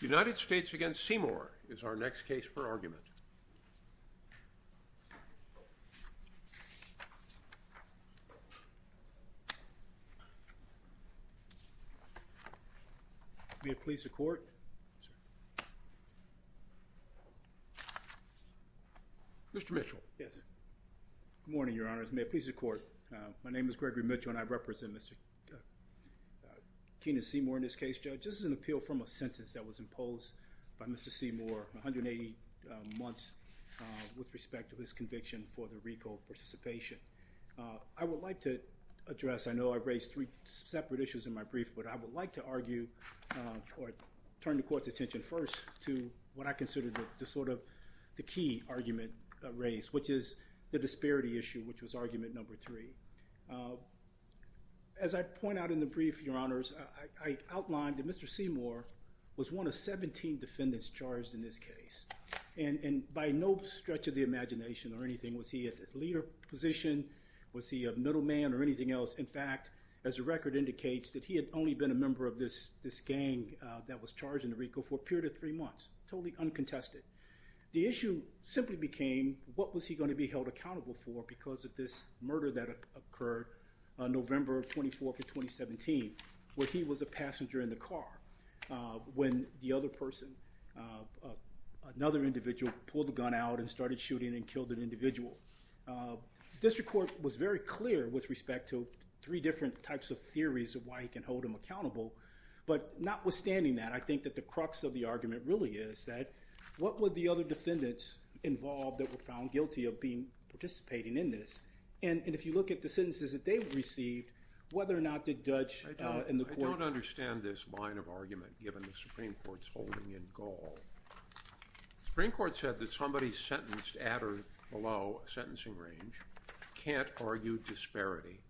United States v. Seymour is our next case for argument. May it please the court. Mr. Mitchell. Yes. Good morning, Your Honor. May it please the court. My name is Gregory Mitchell and I represent Mr. Keenan Seymour in this case, Judge. This is an appeal from a sentence that was imposed by Mr. Seymour, 180 months with respect to his conviction for the recall participation. I would like to address, I know I raised three separate issues in my brief, but I would like to argue or turn the court's attention first to what I consider the sort of the key argument raised, which is the disparity issue, which was argument number three. As I point out in the brief, Your Honors, I outlined that Mr. Seymour was one of 17 defendants charged in this case and and by no stretch of the imagination or anything was he a leader position, was he a middleman or anything else. In fact, as the record indicates that he had only been a member of this this gang that was charged in the recall for a period of three months, totally uncontested. The issue simply became what was he going to be held accountable for because of this murder that occurred November 24th of 2017, where he was a passenger in the car when the other person, another individual, pulled the gun out and started shooting and killed an individual. District Court was very clear with respect to three different types of theories of why he can hold him accountable, but notwithstanding that, I think that the crux of the argument really is that what would the other defendants involved that be participating in this, and if you look at the sentences that they received, whether or not the judge and the court... I don't understand this line of argument given the Supreme Court's holding in Gaul. The Supreme Court said that somebody sentenced at or below a sentencing range can't argue disparity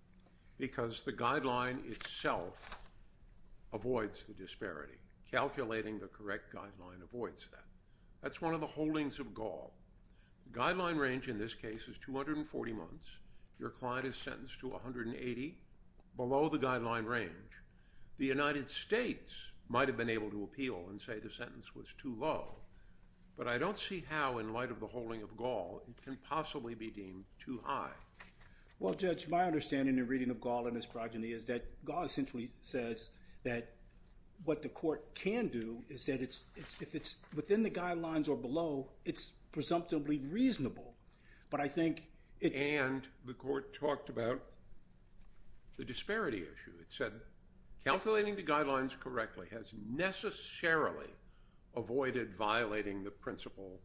because the guideline itself avoids the disparity. Calculating the correct guideline avoids that. That's one of the holdings of Gaul. The guideline range, in this case, is 240 months. Your client is sentenced to 180, below the guideline range. The United States might have been able to appeal and say the sentence was too low, but I don't see how, in light of the holding of Gaul, it can possibly be deemed too high. Well, Judge, my understanding in reading of Gaul and his progeny is that Gaul essentially says that what the court can do is that if it's within the guidelines or below, it's presumptively reasonable, but I think... And the court talked about the disparity issue. It said calculating the guidelines correctly has necessarily avoided violating the principle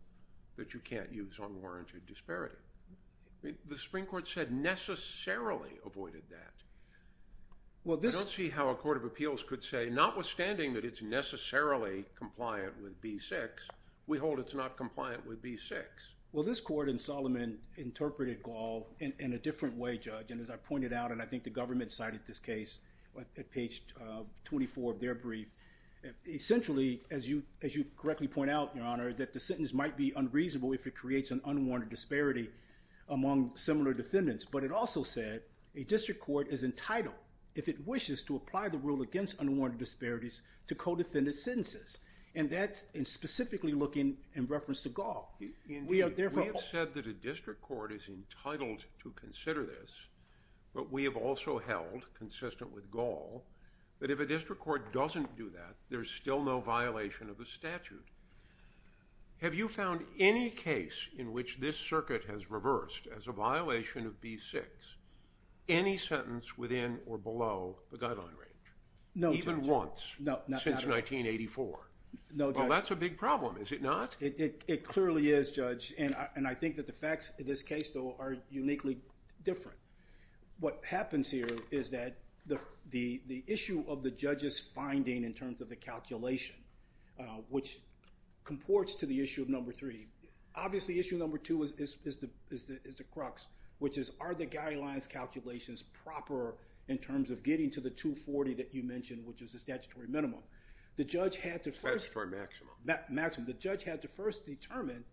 that you can't use unwarranted disparity. The Supreme Court said necessarily avoided that. I don't see how a court of appeals could say, notwithstanding that it's B6, we hold it's not compliant with B6. Well, this court in Solomon interpreted Gaul in a different way, Judge, and as I pointed out, and I think the government cited this case at page 24 of their brief. Essentially, as you as you correctly point out, Your Honor, that the sentence might be unreasonable if it creates an unwarranted disparity among similar defendants, but it also said a district court is entitled, if it wishes to apply the rule against unwarranted disparities, to co-defendant sentences, and that is specifically looking in reference to Gaul. We have said that a district court is entitled to consider this, but we have also held, consistent with Gaul, that if a district court doesn't do that, there's still no violation of the statute. Have you found any case in which this circuit has reversed, as a violation of B6, any sentence within or below the since 1984? No, Judge. Well, that's a big problem, is it not? It clearly is, Judge, and I think that the facts in this case, though, are uniquely different. What happens here is that the issue of the judge's finding in terms of the calculation, which comports to the issue of number three, obviously issue number two is the crux, which is are the guidelines calculations proper in terms of getting to the 240 that you mentioned, which is a statutory minimum. The judge had to first... Statutory maximum. Maximum. The judge had to first determine,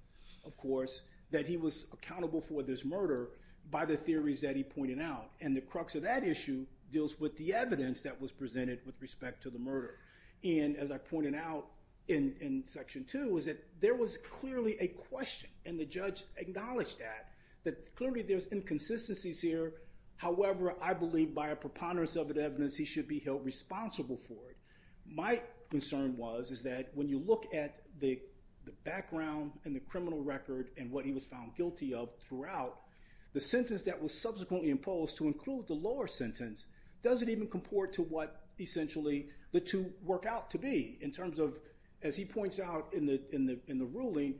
of course, that he was accountable for this murder by the theories that he pointed out, and the crux of that issue deals with the evidence that was presented with respect to the murder, and as I pointed out in Section 2, is that there was clearly a question, and the judge acknowledged that, that clearly there's inconsistencies here. However, I believe by a preponderance of the evidence, he should be held responsible for it. My concern was is that when you look at the background and the criminal record and what he was found guilty of throughout, the sentence that was subsequently imposed to include the lower sentence doesn't even comport to what essentially the two work out to be in terms of, as he points out in the ruling,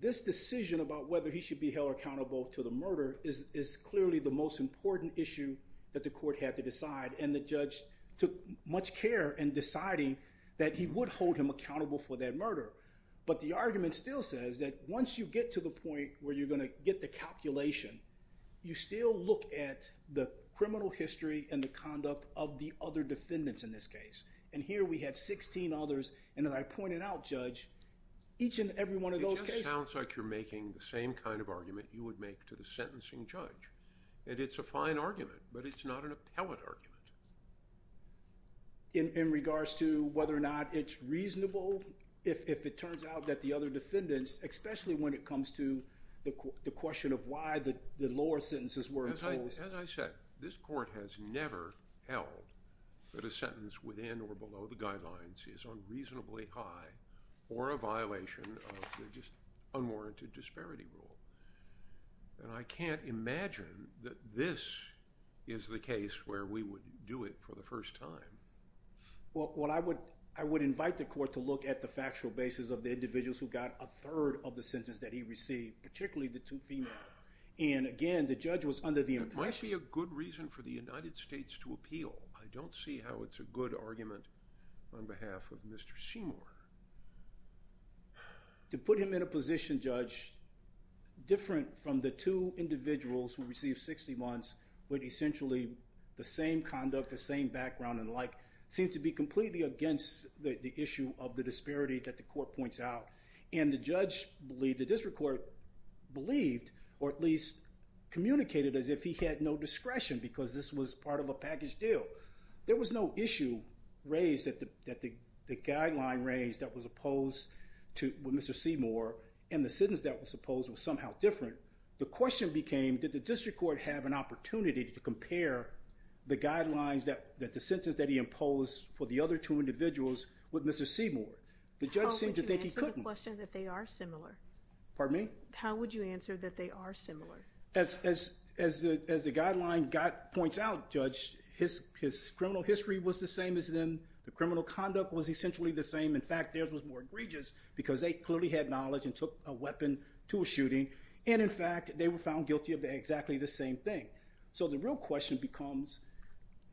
this decision about whether he should be held accountable to the murder is clearly the most important issue that the court had to decide, and the judge took much care in deciding that he would hold him accountable for that murder, but the argument still says that once you get to the point where you're going to get the calculation, you still look at the criminal history and the conduct of the other defendants in this case, and here we have 16 others, and as I pointed out, Judge, each and every one of those sounds like you're making the same kind of argument you would make to the sentencing judge, and it's a fine argument, but it's not an appellate argument. In regards to whether or not it's reasonable, if it turns out that the other defendants, especially when it comes to the question of why the lower sentences were imposed. As I said, this court has never held that a sentence within or just unwarranted disparity rule, and I can't imagine that this is the case where we would do it for the first time. Well, what I would, I would invite the court to look at the factual basis of the individuals who got a third of the sentence that he received, particularly the two females, and again, the judge was under the impression... It might be a good reason for the United States to appeal. I don't see how it's a good argument on behalf of Mr. Seymour. To put him in a position, Judge, different from the two individuals who received 60 months with essentially the same conduct, the same background, and like, seems to be completely against the issue of the disparity that the court points out, and the judge believed, the district court believed, or at least communicated as if he had no discretion, because this was part of a package deal. There was no issue raised that the guideline raised that was opposed to Mr. Seymour, and the sentence that was opposed was somehow different. The question became, did the district court have an opportunity to compare the guidelines that the sentence that he imposed for the other two individuals with Mr. Seymour? The judge seemed to think he couldn't. How would you answer the question that they are similar? Pardon me? How would you answer that they are similar? As the guideline points out, Judge, his criminal history was the same as them. The criminal conduct was essentially the same. In fact, theirs was more egregious, because they clearly had knowledge and took a weapon to a shooting, and in fact, they were found guilty of exactly the same thing. So the real question becomes,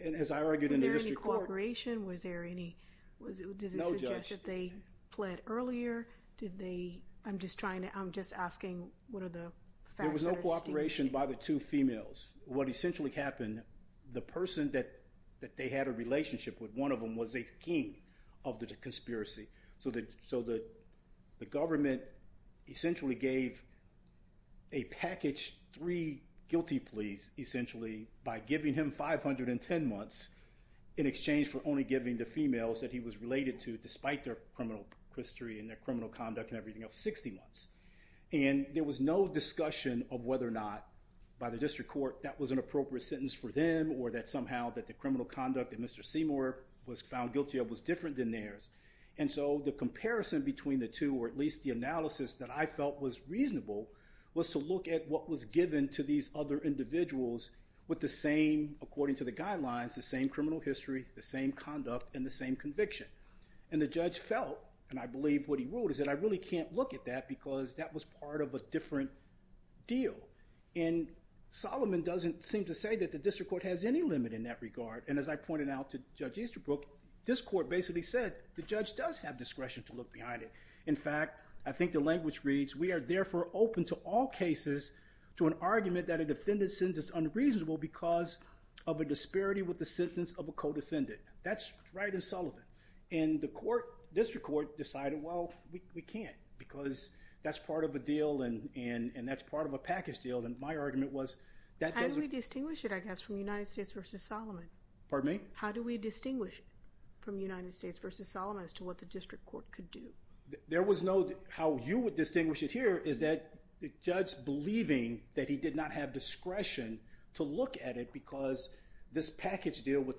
and as I argued in the district court... Was there any cooperation? Was there any... No, Judge. Did it suggest that they led earlier? Did they... I'm just trying to... I'm just asking what are the facts... There was no cooperation by the two females. What essentially happened, the person that that they had a relationship with, one of them, was a king of the conspiracy. So the government essentially gave a package three guilty pleas, essentially, by giving him 510 months in exchange for only giving the females that he was related to, despite their criminal history and their criminal conduct and everything else, 60 months. And there was no discussion of whether or not, by the district court, that was an appropriate sentence for them, or that somehow that the criminal conduct of Mr. Seymour was found guilty of was different than theirs. And so the comparison between the two, or at least the analysis that I felt was reasonable, was to look at what was given to these other individuals with the same, according to the guidelines, the same conviction. And the judge felt, and I believe what he ruled, is that I really can't look at that because that was part of a different deal. And Solomon doesn't seem to say that the district court has any limit in that regard. And as I pointed out to Judge Easterbrook, this court basically said the judge does have discretion to look behind it. In fact, I think the language reads, we are therefore open to all cases to an argument that a defendant's sentence is unreasonable because of a disparity with the sentence of a co-defendant. That's right in Sullivan. And the court, district court, decided, well, we can't because that's part of a deal and that's part of a package deal. And my argument was that... How do we distinguish it, I guess, from United States v. Solomon? Pardon me? How do we distinguish it from United States v. Solomon as to what the district court could do? There was no... How you would distinguish it here is that the judge believing that he did not have discretion to look at it because this was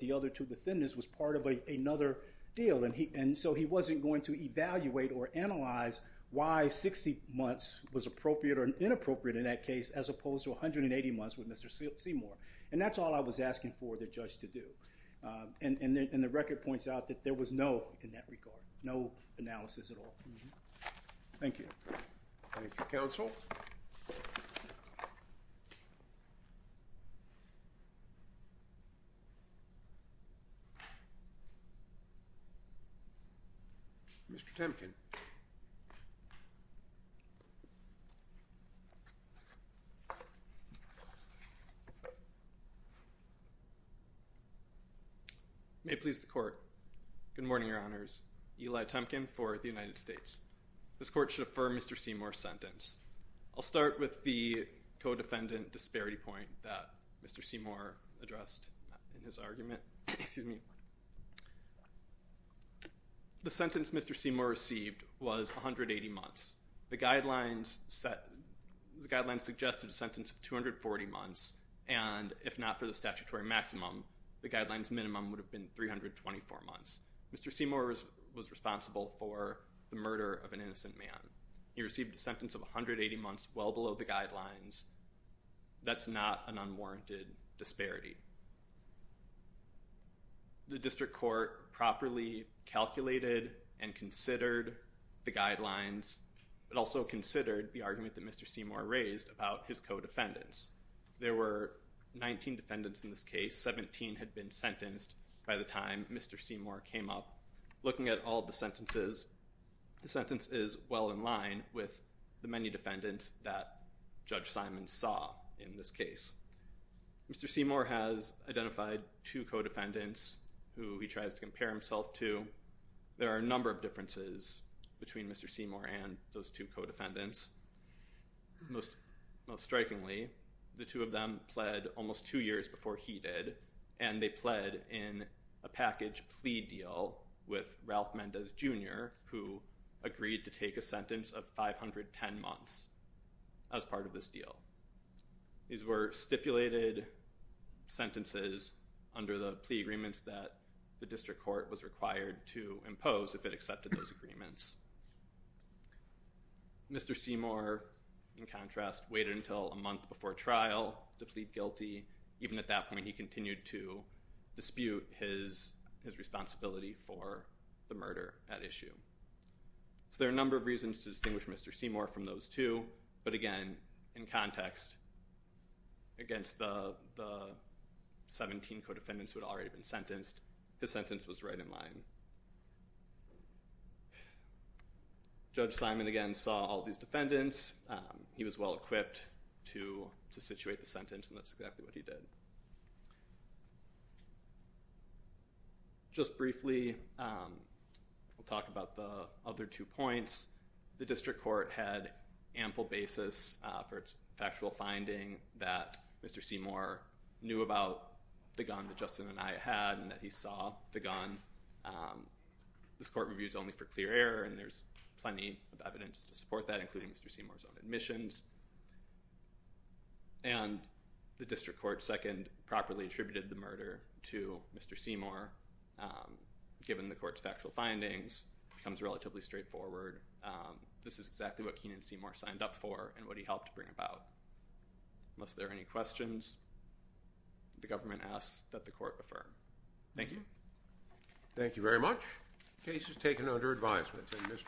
another deal. And so he wasn't going to evaluate or analyze why 60 months was appropriate or inappropriate in that case as opposed to 180 months with Mr. Seymour. And that's all I was asking for the judge to do. And the record points out that there was no, in that regard, no analysis at all. Thank you. Thank you, counsel. Mr. Temkin. May it please the court. Good morning, Your Honors. Eli Temkin for the United States. This court should affirm Mr. Seymour's sentence. I'll start with the co-defendant disparity point that Mr. Seymour addressed in his argument. Excuse me. The sentence Mr. Seymour received was 180 months. The guidelines set... The guidelines suggested a sentence of 240 months. And if not for the statutory maximum, the guidelines minimum would have been 324 months. Mr. Seymour was responsible for the murder of an innocent man. He received a sentence of 180 months well below the guidelines. That's not an unwarranted disparity. The district court properly calculated and considered the guidelines, but also considered the argument that Mr. Seymour raised about his co-defendants. There were 19 defendants in this case. 17 had been sentenced by the time Mr. Seymour came up. Looking at all the sentences, the sentence is well in line with the many sentences that Judge Simon saw in this case. Mr. Seymour has identified two co-defendants who he tries to compare himself to. There are a number of differences between Mr. Seymour and those two co-defendants. Most strikingly, the two of them pled almost two years before he did, and they pled in a package plea deal with Ralph Mendez Jr., who agreed to take a sentence of 510 months as part of this deal. These were stipulated sentences under the plea agreements that the district court was required to impose if it accepted those agreements. Mr. Seymour, in contrast, waited until a month before trial to plead guilty. Even at that point, he continued to dispute his responsibility for the murder at issue. So there are a number of reasons to distinguish Mr. Seymour from those two, but again, in context, against the 17 co-defendants who had already been sentenced, his sentence was right in line. Judge Simon, again, saw all these defendants. He was well-equipped to situate the sentence, and that's exactly what he did. Just briefly, we'll talk about the other two points. The district court had ample basis for its factual finding that Mr. Seymour knew about the gun that Justin and I had, and that he saw the gun. This court reviews only for clear error, and there's plenty of evidence to support that, including Mr. Seymour's own admissions. And the district court, second, properly attributed the murder to Mr. Seymour, given the court's findings, becomes relatively straightforward. This is exactly what Keenan Seymour signed up for and what he helped bring about. Unless there are any questions, the government asks that the court affirm. Thank you. Thank you very much. Case is taken under advisement.